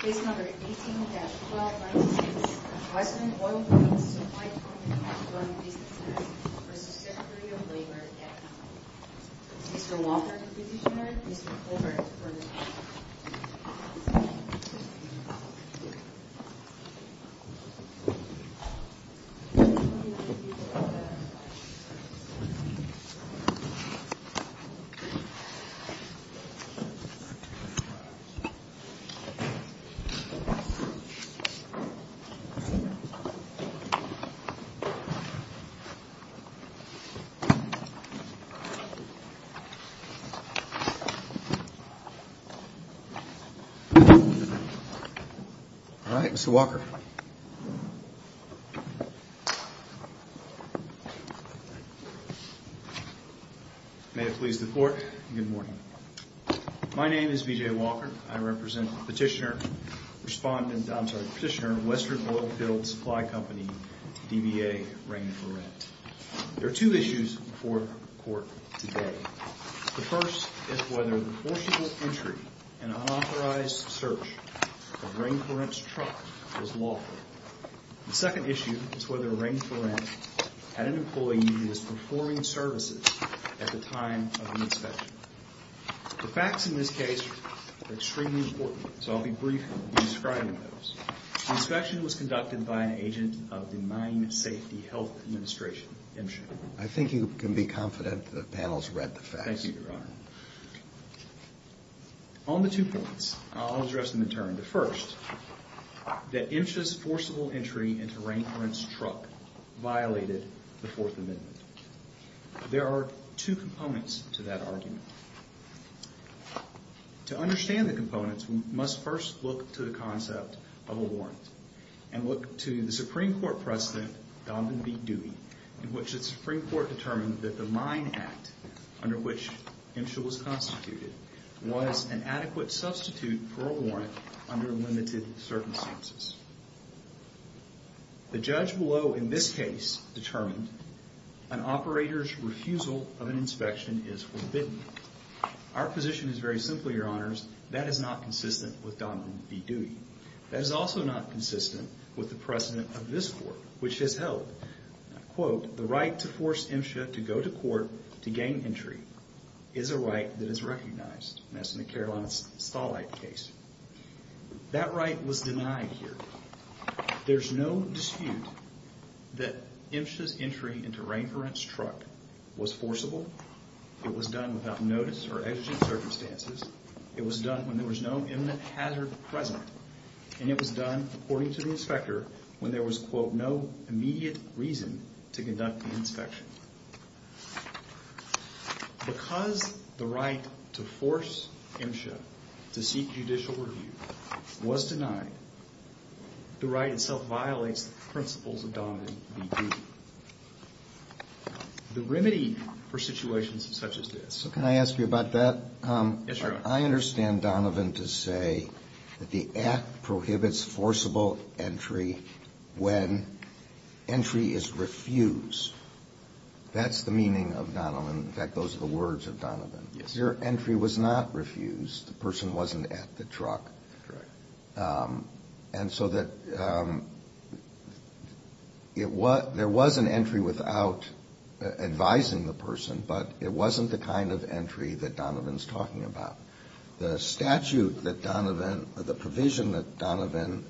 Case No. 18-596. Vice-President of Oilfields Supply Comp. v. Secretary of Labor Mr. Walter, the positioner. Mr. Colbert, the permanent positioner. All right, Mr. Walker. May it please the Court, good morning. My name is B.J. Walker. I represent the petitioner, respondent, I'm sorry, petitioner, Western Oilfields Supply Company, DBA, Rain for Rent. There are two issues before the Court today. The first is whether the forcible entry and unauthorized search of Rain for Rent's truck was lawful. The second issue is whether Rain for Rent had an employee who was performing services at the time of the inspection. The facts in this case are extremely important, so I'll be brief in describing those. The inspection was conducted by an agent of the Mine Safety Health Administration, MSHA. I think you can be confident the panel's read the facts. Thank you, Your Honor. On the two points, I'll address them in turn. The first, that MSHA's forcible entry into Rain for Rent's truck violated the Fourth Amendment. There are two components to that argument. To understand the components, we must first look to the concept of a warrant and look to the Supreme Court precedent, Donovan v. Dewey, in which the Supreme Court determined that the mine act under which MSHA was constituted was an adequate substitute for a warrant under limited circumstances. The judge below in this case determined an operator's refusal of an inspection is forbidden. Our position is very simple, Your Honors. That is not consistent with Donovan v. Dewey. That is also not consistent with the precedent of this court, which has held, quote, the right to force MSHA to go to court to gain entry is a right that is recognized, and that's in the Carolina Stallite case. That right was denied here. There's no dispute that MSHA's entry into Rain for Rent's truck was forcible. It was done without notice or exigent circumstances. It was done when there was no imminent hazard present, and it was done, according to the inspector, when there was, quote, no immediate reason to conduct the inspection. Because the right to force MSHA to seek judicial review was denied, the right itself violates the principles of Donovan v. Dewey. The remedy for situations such as this. So can I ask you about that? Yes, Your Honor. I understand Donovan to say that the act prohibits forcible entry when entry is refused. That's the meaning of Donovan. In fact, those are the words of Donovan. Yes. Your entry was not refused. The person wasn't at the truck. Correct. And so that there was an entry without advising the person, but it wasn't the kind of entry that Donovan's talking about. The statute that Donovan or the provision that Donovan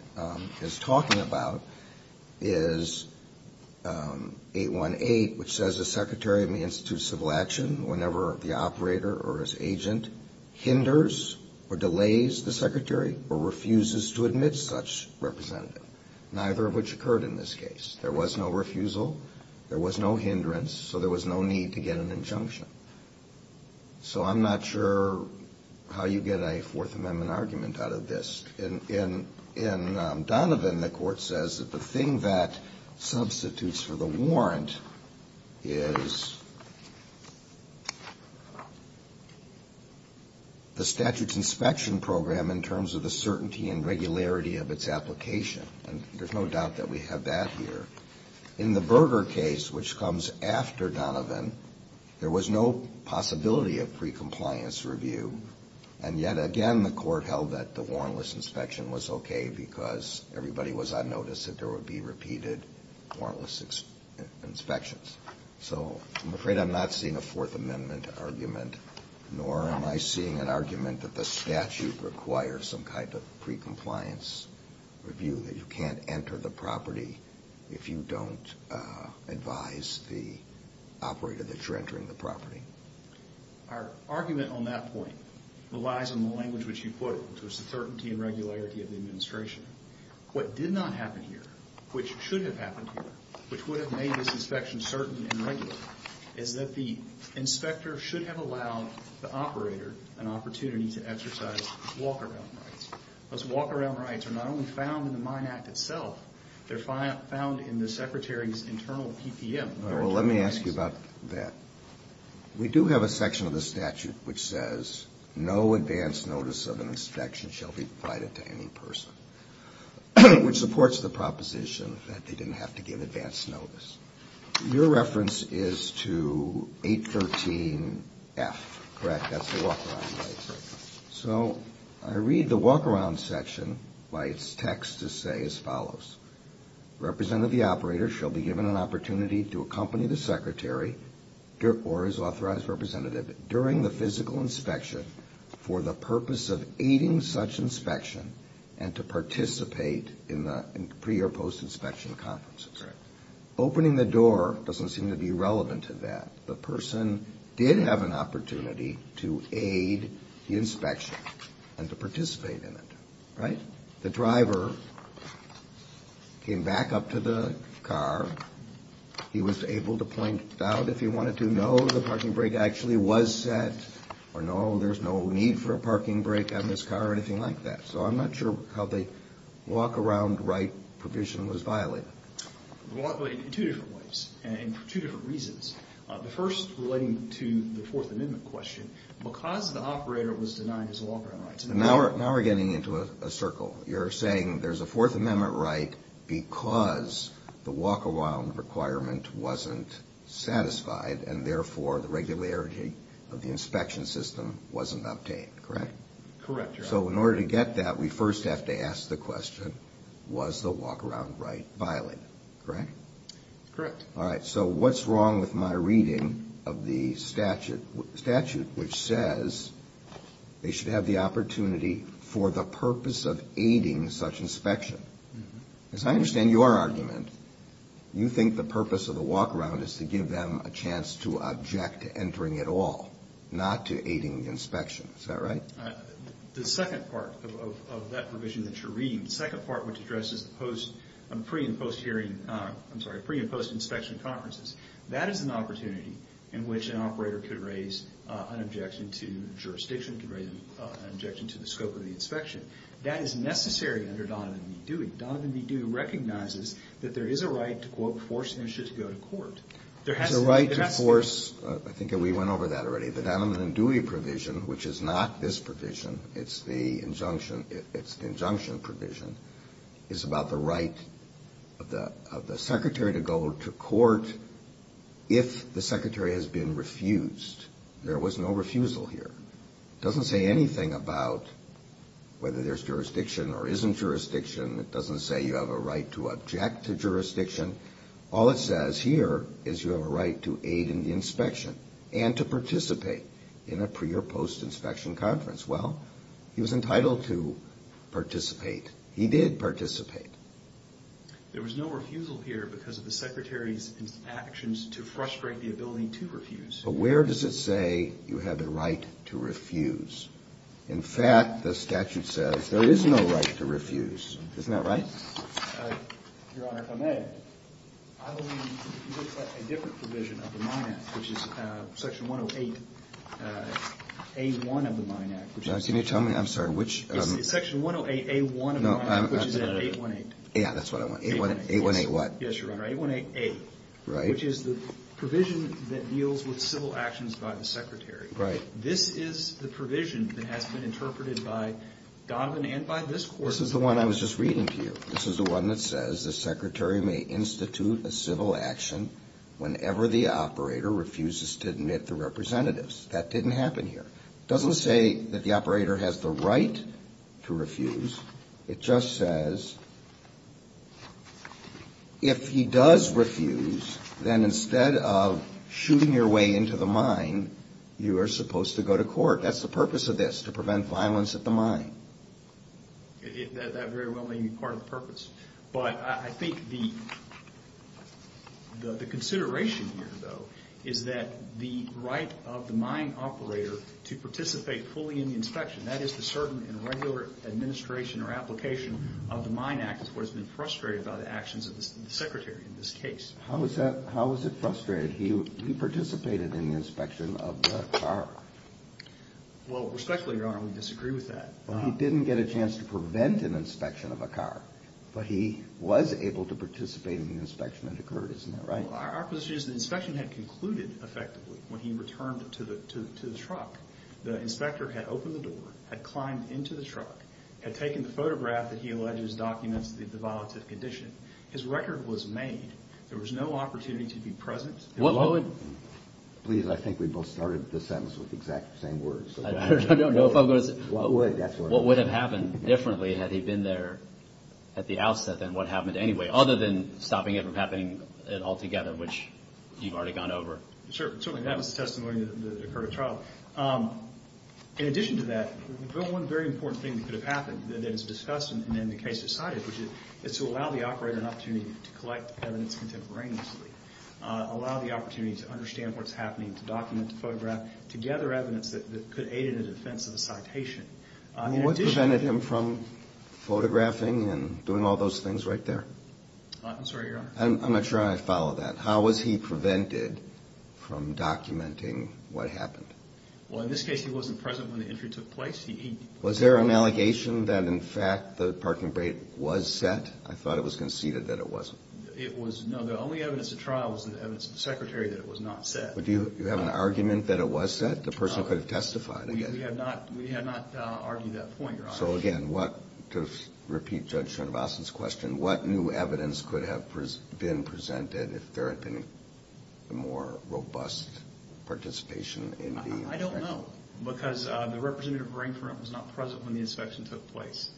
is talking about is 818, which says a secretary of the Institute of Civil Action, whenever the operator or his agent hinders or delays the secretary or refuses to admit such representative, neither of which occurred in this case. There was no refusal. There was no hindrance. So there was no need to get an injunction. So I'm not sure how you get a Fourth Amendment argument out of this. In Donovan, the Court says that the thing that substitutes for the warrant is the statute's inspection program in terms of the certainty and regularity of its application, and there's no doubt that we have that here. In the Berger case, which comes after Donovan, there was no possibility of precompliance review, and yet again the Court held that the warrantless inspection was okay because everybody was on notice that there would be repeated warrantless inspections. So I'm afraid I'm not seeing a Fourth Amendment argument, nor am I seeing an argument that the statute requires some kind of precompliance review, that you can't enter the property if you don't advise the operator that you're entering the property. Our argument on that point relies on the language which you put it, which was the certainty and regularity of the administration. What did not happen here, which should have happened here, which would have made this inspection certain and regular, is that the inspector should have allowed the operator an opportunity to exercise walk-around rights. Those walk-around rights are not only found in the Mine Act itself, they're found in the Secretary's internal PPM. Well, let me ask you about that. We do have a section of the statute which says no advance notice of an inspection shall be provided to any person, which supports the proposition that they didn't have to give advance notice. Your reference is to 813F, correct? That's the walk-around rights. So I read the walk-around section by its text to say as follows. Representative, the operator, shall be given an opportunity to accompany the Secretary or his authorized representative during the physical inspection for the purpose of aiding such inspection and to participate in the pre- or post-inspection conferences. Opening the door doesn't seem to be relevant to that. The person did have an opportunity to aid the inspection and to participate in it, right? The driver came back up to the car. He was able to point out if he wanted to know the parking brake actually was set or no, there's no need for a parking brake on this car or anything like that. So I'm not sure how the walk-around right provision was violated. It was violated in two different ways and for two different reasons. The first relating to the Fourth Amendment question, because the operator was denied his walk-around rights. Now we're getting into a circle. You're saying there's a Fourth Amendment right because the walk-around requirement wasn't satisfied and therefore the regularity of the inspection system wasn't obtained, correct? Correct, Your Honor. So in order to get that, we first have to ask the question, was the walk-around right violated, correct? Correct. All right. So what's wrong with my reading of the statute which says they should have the opportunity for the purpose of aiding such inspection? Because I understand your argument. You think the purpose of the walk-around is to give them a chance to object to entering at all, not to aiding the inspection. Is that right? The second part of that provision that you're reading, the second part which addresses the pre- and post-inspection conferences, that is an opportunity in which an operator could raise an objection to jurisdiction, could raise an objection to the scope of the inspection. That is necessary under Donovan v. Dewey. Donovan v. Dewey recognizes that there is a right to, quote, force an insurer to go to court. There has to be. There's a right to force. I think we went over that already. The Donovan v. Dewey provision, which is not this provision. It's the injunction provision. It's about the right of the secretary to go to court if the secretary has been refused. There was no refusal here. It doesn't say anything about whether there's jurisdiction or isn't jurisdiction. It doesn't say you have a right to object to jurisdiction. All it says here is you have a right to aid in the inspection and to participate in a pre- or post-inspection conference. Well, he was entitled to participate. He did participate. There was no refusal here because of the secretary's actions to frustrate the ability to refuse. But where does it say you have a right to refuse? In fact, the statute says there is no right to refuse. Isn't that right? Your Honor, if I may, I believe you look at a different provision of the Mine Act, which is Section 108A1 of the Mine Act. Can you tell me? I'm sorry, which? It's Section 108A1 of the Mine Act, which is 818. Yeah, that's what I want. 818 what? Yes, Your Honor, 818A, which is the provision that deals with civil actions by the secretary. Right. This is the provision that has been interpreted by Donovan and by this Court. This is the one I was just reading to you. This is the one that says the secretary may institute a civil action whenever the operator refuses to admit the representatives. That didn't happen here. It doesn't say that the operator has the right to refuse. It just says if he does refuse, then instead of shooting your way into the mine, you are supposed to go to court. That's the purpose of this, to prevent violence at the mine. That very well may be part of the purpose. But I think the consideration here, though, is that the right of the mine operator to participate fully in the inspection, that is the certain and regular administration or application of the Mine Act, is what has been frustrated by the actions of the secretary in this case. How is it frustrated? He participated in the inspection of the car. Well, respectfully, Your Honor, we disagree with that. He didn't get a chance to prevent an inspection of a car, but he was able to participate in the inspection that occurred, isn't that right? Our position is the inspection had concluded effectively when he returned to the truck. The inspector had opened the door, had climbed into the truck, had taken the photograph that he alleges documents the violative condition. His record was made. There was no opportunity to be present. Please, I think we both started the sentence with the exact same words. I don't know if I'm going to say it. What would have happened differently had he been there at the outset than what happened anyway, other than stopping it from happening altogether, which you've already gone over? Certainly. That was the testimony that occurred at trial. In addition to that, one very important thing that could have happened that is discussed and then the case decided, which is to allow the operator an opportunity to collect evidence contemporaneously, to gather evidence that could aid in the defense of the citation. What prevented him from photographing and doing all those things right there? I'm sorry, Your Honor. I'm not sure I follow that. How was he prevented from documenting what happened? Well, in this case, he wasn't present when the injury took place. Was there an allegation that, in fact, the parking brake was set? I thought it was conceded that it wasn't. No, the only evidence at trial was the evidence of the secretary that it was not set. Do you have an argument that it was set? The person could have testified against it. We have not argued that point, Your Honor. So, again, to repeat Judge Schoenwasser's question, what new evidence could have been presented if there had been a more robust participation in the inspection? I don't know because the representative brain front was not present when the inspection took place.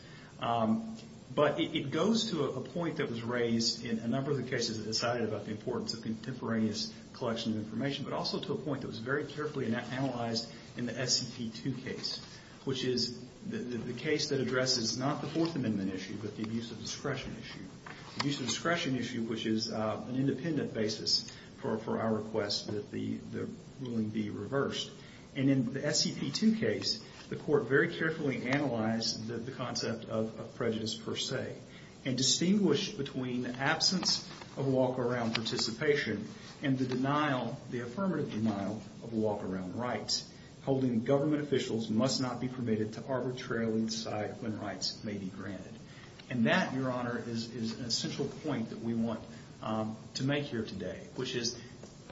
But it goes to a point that was raised in a number of the cases that decided about the importance of contemporaneous collection of information, but also to a point that was very carefully analyzed in the SCP-2 case, which is the case that addresses not the Fourth Amendment issue but the abuse of discretion issue. The abuse of discretion issue, which is an independent basis for our request that the ruling be reversed. And in the SCP-2 case, the court very carefully analyzed the concept of prejudice per se and distinguished between absence of walk-around participation and the denial, the affirmative denial of walk-around rights. Holding government officials must not be permitted to arbitrarily decide when rights may be granted. And that, Your Honor, is an essential point that we want to make here today, which is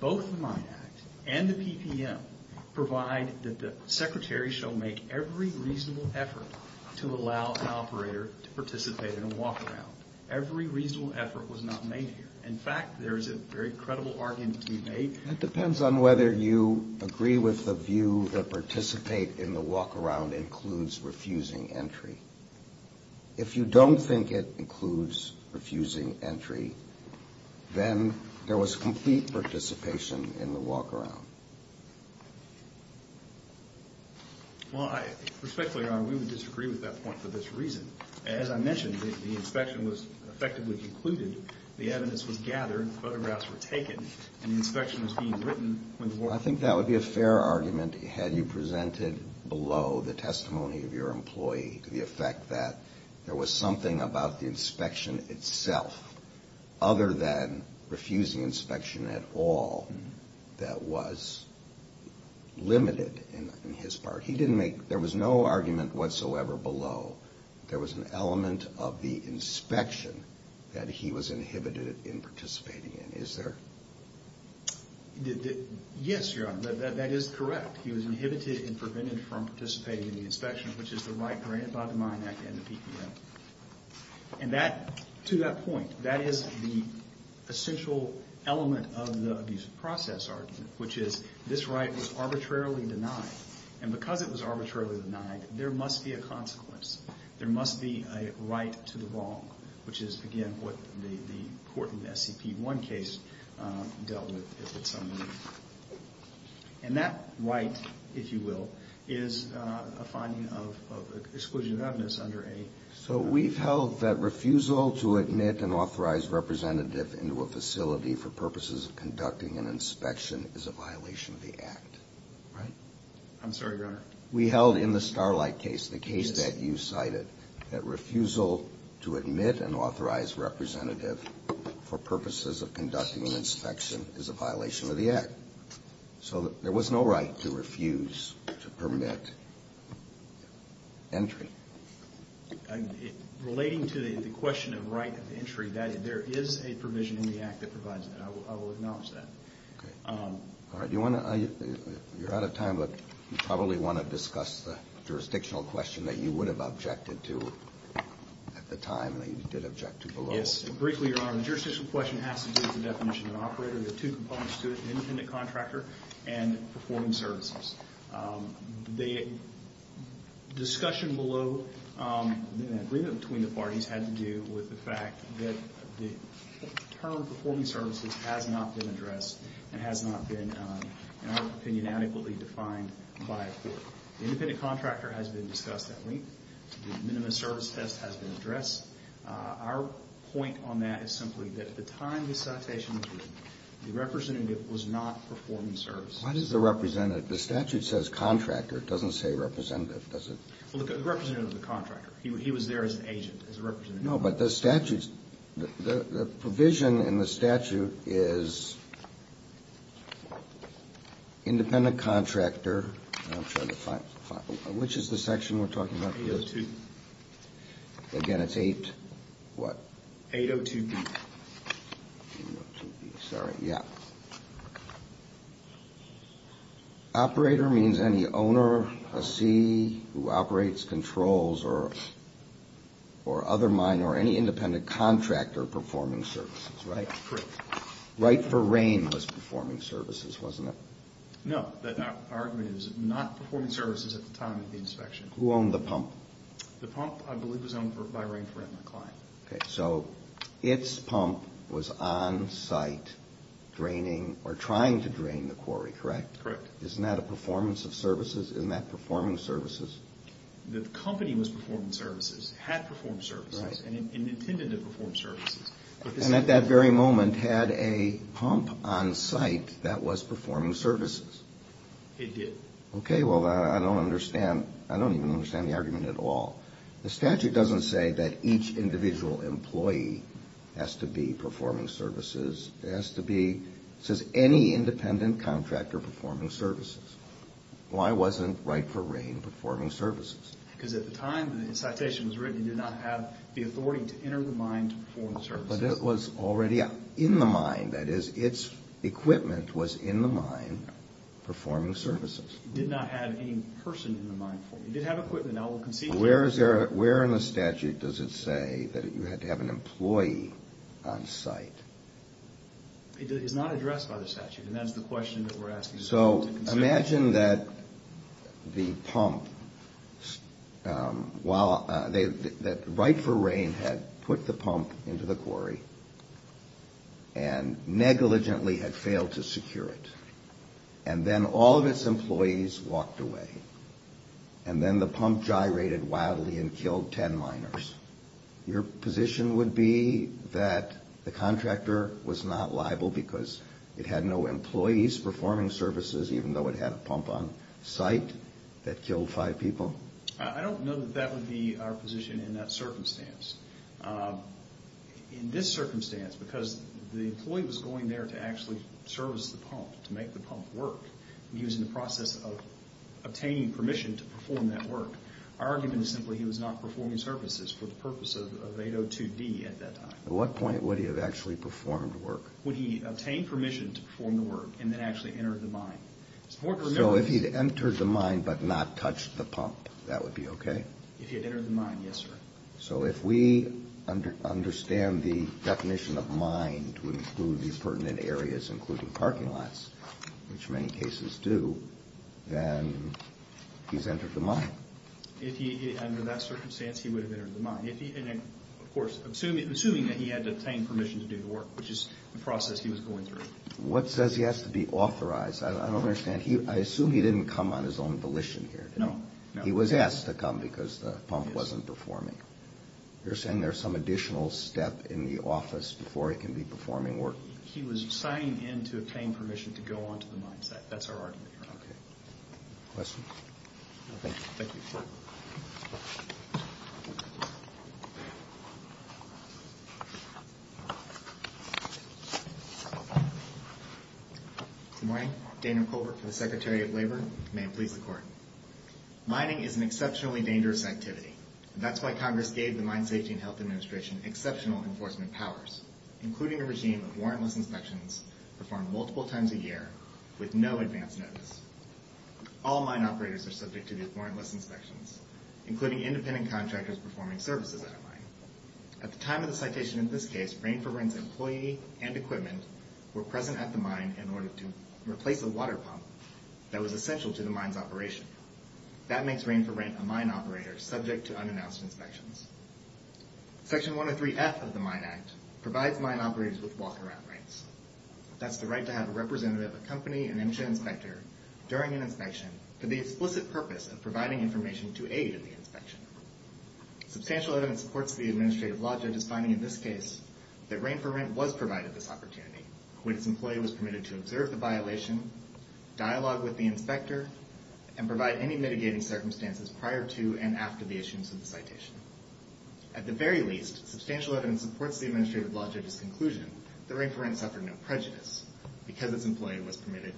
both the Mine Act and the PPM provide that the secretary shall make every reasonable effort to allow an operator to participate in a walk-around. Every reasonable effort was not made here. In fact, there is a very credible argument to be made. It depends on whether you agree with the view that participate in the walk-around includes refusing entry. If you don't think it includes refusing entry, then there was complete participation in the walk-around. Well, respectfully, Your Honor, we would disagree with that point for this reason. As I mentioned, the inspection was effectively concluded. The evidence was gathered. Photographs were taken. And the inspection was being written. I think that would be a fair argument had you presented below the testimony of your employee the effect that there was something about the inspection itself other than refusing inspection at all that was limited in his part. There was no argument whatsoever below. There was an element of the inspection that he was inhibited in participating in. Is there? Yes, Your Honor, that is correct. He was inhibited and prevented from participating in the inspection, which is the right granted by the Mine Act and the PPM. And to that point, that is the essential element of the abuse of process argument, which is this right was arbitrarily denied. And because it was arbitrarily denied, there must be a consequence. There must be a right to the wrong, which is, again, what the court in the SCP-1 case dealt with. And that right, if you will, is a finding of exclusion of evidence under a... So we've held that refusal to admit an authorized representative into a facility for purposes of conducting an inspection is a violation of the Act, right? I'm sorry, Your Honor. We held in the Starlight case, the case that you cited, that refusal to admit an authorized representative for purposes of conducting an inspection is a violation of the Act. So there was no right to refuse to permit entry. Relating to the question of right of entry, there is a provision in the Act that provides that. I will acknowledge that. Okay. All right. You're out of time, but you probably want to discuss the jurisdictional question that you would have objected to at the time and that you did object to below. Yes. Briefly, Your Honor, the jurisdictional question has to do with the definition of an operator. There are two components to it, an independent contractor and performing services. The discussion below, the agreement between the parties, had to do with the fact that the term performing services has not been addressed and has not been, in our opinion, adequately defined by a court. The independent contractor has been discussed at length. The minimum service test has been addressed. Our point on that is simply that at the time this citation was written, the representative was not performing services. Why does the representative? The statute says contractor. It doesn't say representative, does it? Well, the representative is a contractor. He was there as an agent, as a representative. No, but the statute's – the provision in the statute is independent contractor. I'm trying to find – which is the section we're talking about? AO2. Again, it's 8-what? 802B. 802B, sorry, yeah. Operator means any owner, a C, who operates, controls, or other minor, any independent contractor performing services, right? That's correct. Wright for Rain was performing services, wasn't it? No, our argument is not performing services at the time of the inspection. Who owned the pump? The pump, I believe, was owned by Rain for Rain, my client. Okay, so its pump was on site draining or trying to drain the quarry, correct? Correct. Isn't that a performance of services? Isn't that performing services? The company was performing services, had performed services, and intended to perform services. And at that very moment had a pump on site that was performing services? It did. Okay, well, I don't understand. I don't even understand the argument at all. The statute doesn't say that each individual employee has to be performing services. It has to be – it says any independent contractor performing services. Why wasn't Wright for Rain performing services? Because at the time the citation was written, you did not have the authority to enter the mine to perform the services. But it was already in the mine. That is, its equipment was in the mine performing services. It did not have any person in the mine. It did have equipment. Where in the statute does it say that you had to have an employee on site? It is not addressed by the statute, and that's the question that we're asking. So imagine that the pump, that Wright for Rain had put the pump into the quarry and negligently had failed to secure it. And then all of its employees walked away. And then the pump gyrated wildly and killed 10 miners. Your position would be that the contractor was not liable because it had no employees performing services, even though it had a pump on site that killed five people? I don't know that that would be our position in that circumstance. In this circumstance, because the employee was going there to actually service the pump, to make the pump work, and he was in the process of obtaining permission to perform that work, our argument is simply he was not performing services for the purpose of 802D at that time. At what point would he have actually performed work? Would he have obtained permission to perform the work and then actually entered the mine? So if he had entered the mine but not touched the pump, that would be okay? If he had entered the mine, yes, sir. So if we understand the definition of mine to include these pertinent areas, including parking lots, which many cases do, then he's entered the mine. If he, under that circumstance, he would have entered the mine. Of course, assuming that he had obtained permission to do the work, which is the process he was going through. What says he has to be authorized? I don't understand. I assume he didn't come on his own volition here, did he? No, no. He was asked to come because the pump wasn't performing. You're saying there's some additional step in the office before he can be performing work? He was signing in to obtain permission to go onto the mine site. That's our argument here. Okay. Questions? No, thank you. Thank you. Good morning. Daniel Colbert for the Secretary of Labor. May it please the Court. Mining is an exceptionally dangerous activity, and that's why Congress gave the Mine Safety and Health Administration exceptional enforcement powers, including a regime of warrantless inspections performed multiple times a year with no advance notice. All mine operators are subject to these warrantless inspections, including independent contractors performing services at a mine. At the time of the citation in this case, Rain for Rent's employee and equipment were present at the mine in order to replace a water pump that was essential to the mine's operation. That makes Rain for Rent a mine operator subject to unannounced inspections. Section 103F of the Mine Act provides mine operators with walk-around rights. That's the right to have a representative accompany an inspection inspector during an inspection for the explicit purpose of providing information to aid in the inspection. Substantial evidence supports the administrative law judge's finding in this case that Rain for Rent was provided this opportunity when its employee was permitted to observe the violation, dialogue with the inspector, and provide any mitigating circumstances prior to and after the issuance of the citation. At the very least, substantial evidence supports the administrative law judge's conclusion that Rain for Rent suffered no prejudice because its employee was permitted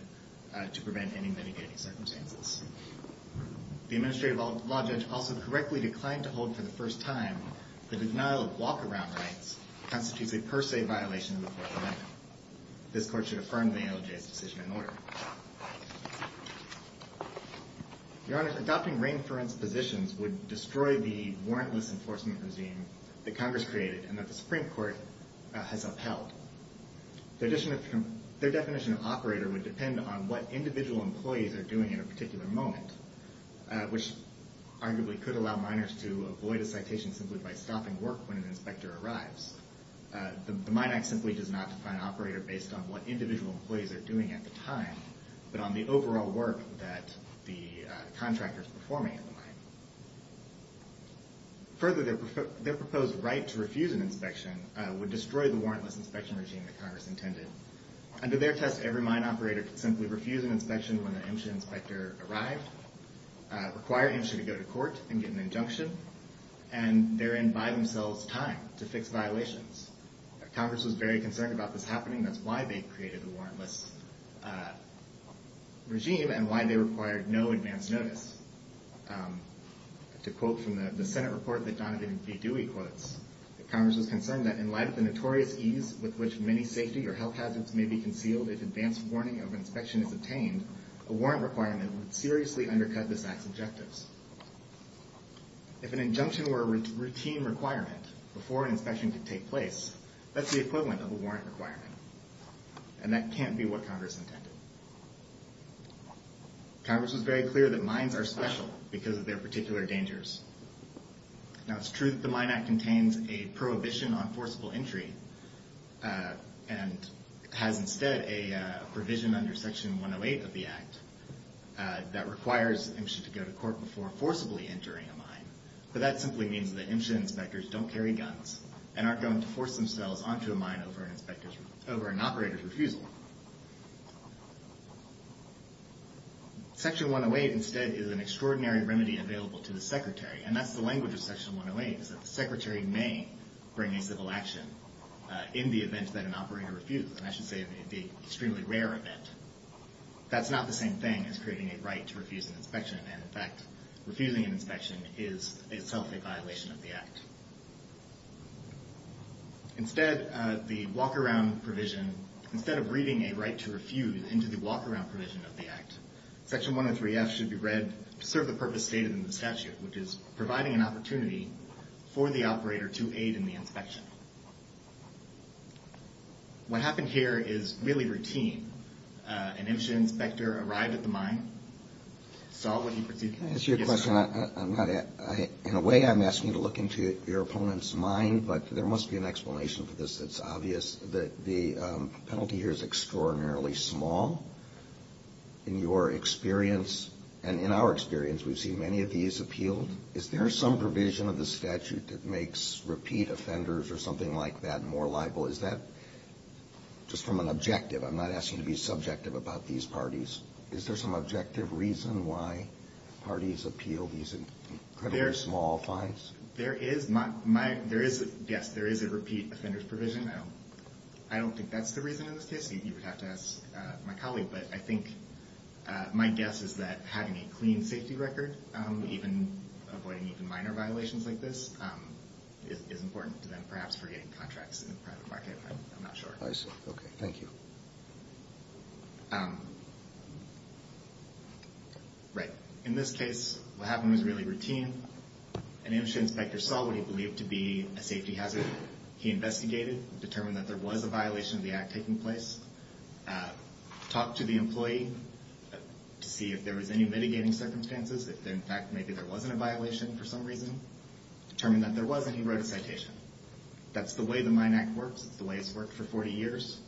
to prevent any mitigating circumstances. The administrative law judge also correctly declined to hold for the first time that the denial of walk-around rights constitutes a per se violation of the Fourth Amendment. This court should affirm the NOJ's decision in order. Your Honor, adopting Rain for Rent's positions would destroy the warrantless enforcement regime that Congress created and that the Supreme Court has upheld. Their definition of operator would depend on what individual employees are doing at a particular moment, which arguably could allow miners to avoid a citation simply by stopping work when an inspector arrives. The Mine Act simply does not define operator based on what individual employees are doing at the time, but on the overall work that the contractor is performing at the mine. Further, their proposed right to refuse an inspection would destroy the warrantless inspection regime that Congress intended. Under their test, every mine operator could simply refuse an inspection when an inspector arrived, require him to go to court and get an injunction, and therein buy themselves time to fix violations. Congress was very concerned about this happening. That's why they created the warrantless regime and why they required no advance notice. To quote from the Senate report that Donovan B. Dewey quotes, Congress was concerned that in light of the notorious ease with which many safety or health hazards may be concealed if advance warning of an inspection is obtained, a warrant requirement would seriously undercut this Act's objectives. If an injunction were a routine requirement before an inspection could take place, that's the equivalent of a warrant requirement, and that can't be what Congress intended. Congress was very clear that mines are special because of their particular dangers. Now it's true that the Mine Act contains a prohibition on forcible entry, and has instead a provision under Section 108 of the Act that requires an inspection to go to court before forcibly entering a mine, but that simply means that inspection inspectors don't carry guns and aren't going to force themselves onto a mine over an operator's refusal. Section 108 instead is an extraordinary remedy available to the Secretary, and that's the language of Section 108, is that the Secretary may bring a civil action in the event that an operator refused, and I should say in the extremely rare event. That's not the same thing as creating a right to refuse an inspection, and in fact, refusing an inspection is itself a violation of the Act. Instead, the walk-around provision, instead of reading a right to refuse into the walk-around provision of the Act, Section 103F should be read to serve the purpose stated in the statute, which is providing an opportunity for the operator to aid in the inspection. What happened here is really routine. An inspector arrived at the mine, saw what he perceived to be... Can I ask you a question? In a way, I'm asking you to look into your opponent's mind, but there must be an explanation for this. It's obvious that the penalty here is extraordinarily small. In your experience, and in our experience, we've seen many of these appealed. Is there some provision of the statute that makes repeat offenders or something like that more liable? Is that just from an objective? I'm not asking you to be subjective about these parties. Is there some objective reason why parties appeal these incredibly small fines? Yes, there is a repeat offenders provision. I don't think that's the reason in this case. You would have to ask my colleague, but I think my guess is that having a clean safety record, even avoiding even minor violations like this, is important to them, perhaps, for getting contracts in the private market. I'm not sure. I see. Okay. Thank you. In this case, what happened was really routine. An industry inspector saw what he believed to be a safety hazard. He investigated, determined that there was a violation of the act taking place, talked to the employee to see if there was any mitigating circumstances, if, in fact, maybe there wasn't a violation for some reason, determined that there was, and he wrote a citation. That's the way the Mine Act works. It's the way it's worked for 40 years.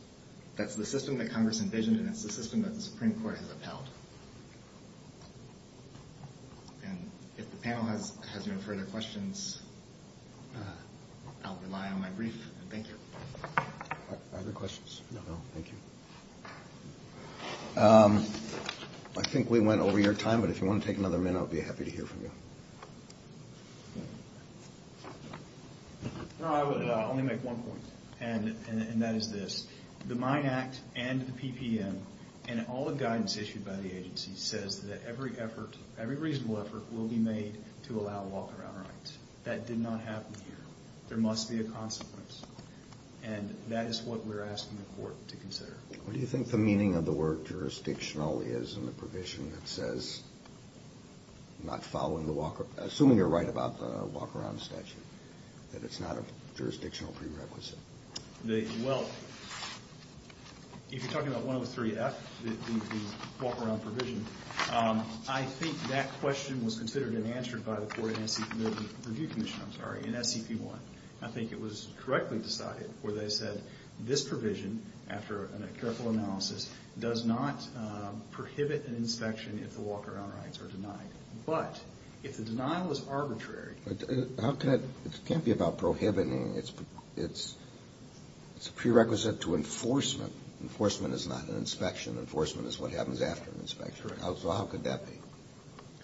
That's the system that Congress envisioned, and it's the system that the Supreme Court has upheld. If the panel has no further questions, I'll rely on my brief. Thank you. Are there questions? No. Thank you. I think we went over your time, but if you want to take another minute, I'd be happy to hear from you. No, I would only make one point, and that is this. The Mine Act and the PPM and all the guidance issued by the agency says that every effort, every reasonable effort, will be made to allow walk-around rights. That did not happen here. There must be a consequence, and that is what we're asking the Court to consider. What do you think the meaning of the word jurisdictional is in the provision that says not following the walk-around? Assuming you're right about the walk-around statute, that it's not a jurisdictional prerequisite. Well, if you're talking about 103F, the walk-around provision, I think that question was considered and answered by the Court and the Review Commission in SCP-1. I think it was correctly decided where they said, this provision, after a careful analysis, does not prohibit an inspection if the walk-around rights are denied. But if the denial is arbitrary... It can't be about prohibiting. It's a prerequisite to enforcement. Enforcement is not an inspection. Enforcement is what happens after an inspection. So how could that be?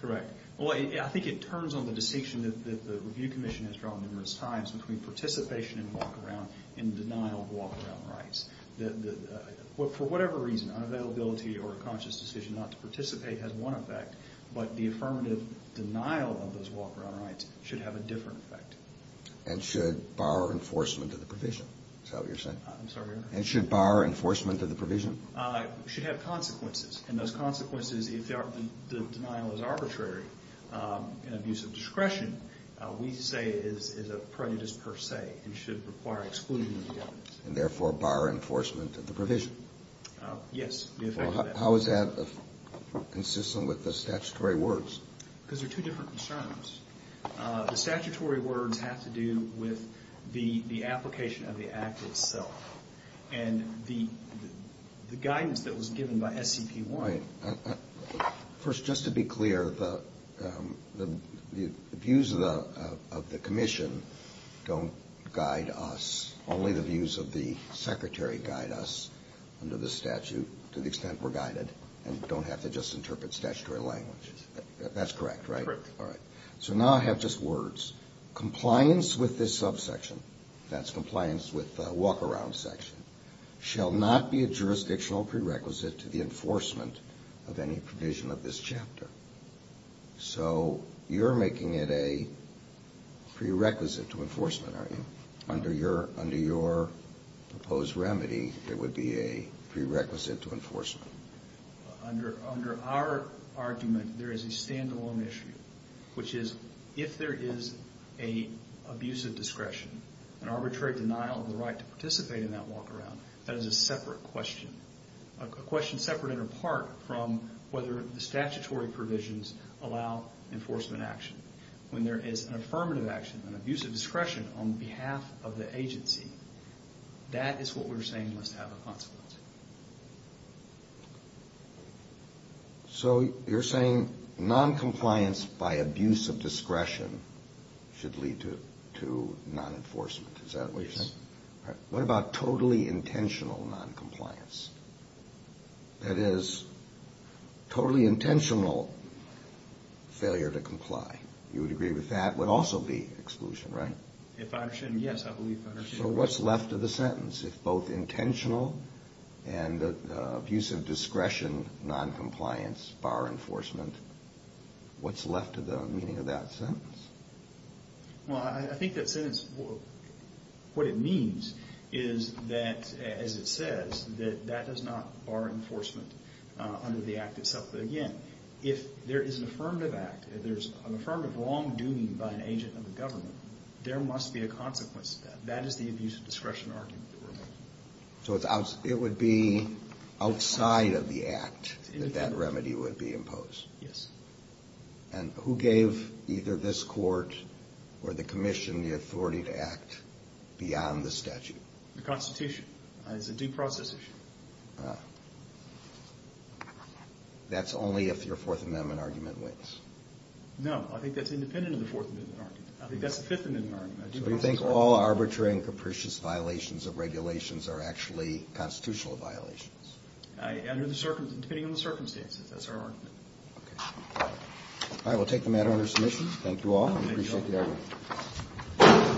Correct. Well, I think it turns on the distinction that the Review Commission has drawn numerous times between participation in walk-around and denial of walk-around rights. For whatever reason, unavailability or a conscious decision not to participate has one effect, but the affirmative denial of those walk-around rights should have a different effect. And should bar enforcement of the provision? Is that what you're saying? I'm sorry, Your Honor? And should bar enforcement of the provision? It should have consequences, and those consequences, if the denial is arbitrary in abuse of discretion, we say is a prejudice per se and should require exclusion of the evidence. And therefore bar enforcement of the provision? Yes, the effect of that. How is that consistent with the statutory words? Because there are two different concerns. The statutory words have to do with the application of the act itself. And the guidance that was given by SCP-1... The views of the Commission don't guide us. Only the views of the Secretary guide us under the statute to the extent we're guided and don't have to just interpret statutory language. That's correct, right? Correct. All right. So now I have just words. Compliance with this subsection, that's compliance with the walk-around section, shall not be a jurisdictional prerequisite to the enforcement of any provision of this chapter. So you're making it a prerequisite to enforcement, are you? Under your proposed remedy, it would be a prerequisite to enforcement. Under our argument, there is a standalone issue, which is if there is an abuse of discretion, an arbitrary denial of the right to participate in that walk-around, that is a separate question. A question separate and apart from whether the statutory provisions allow enforcement action. When there is an affirmative action, an abuse of discretion, on behalf of the agency, that is what we're saying must have a consequence. So you're saying noncompliance by abuse of discretion should lead to nonenforcement. Is that what you're saying? Yes. All right. What about totally intentional noncompliance? That is, totally intentional failure to comply. You would agree with that would also be exclusion, right? Yes, I believe I understand that. So what's left of the sentence? If both intentional and abuse of discretion, noncompliance, bar enforcement, what's left of the meaning of that sentence? Well, I think that sentence, what it means is that, as it says, that that does not bar enforcement under the act itself. But again, if there is an affirmative act, if there's an affirmative wrongdoing by an agent of the government, there must be a consequence to that. That is the abuse of discretion argument that we're making. So it would be outside of the act that that remedy would be imposed? Yes. And who gave either this court or the commission the authority to act beyond the statute? The Constitution. It's a due process issue. Ah. That's only if your Fourth Amendment argument wins. No, I think that's independent of the Fourth Amendment argument. I think that's the Fifth Amendment argument. So you think all arbitrary and capricious violations of regulations are actually constitutional violations? Under the circumstances, depending on the circumstances. That's our argument. Okay. Thank you all. I appreciate the argument. Thank you.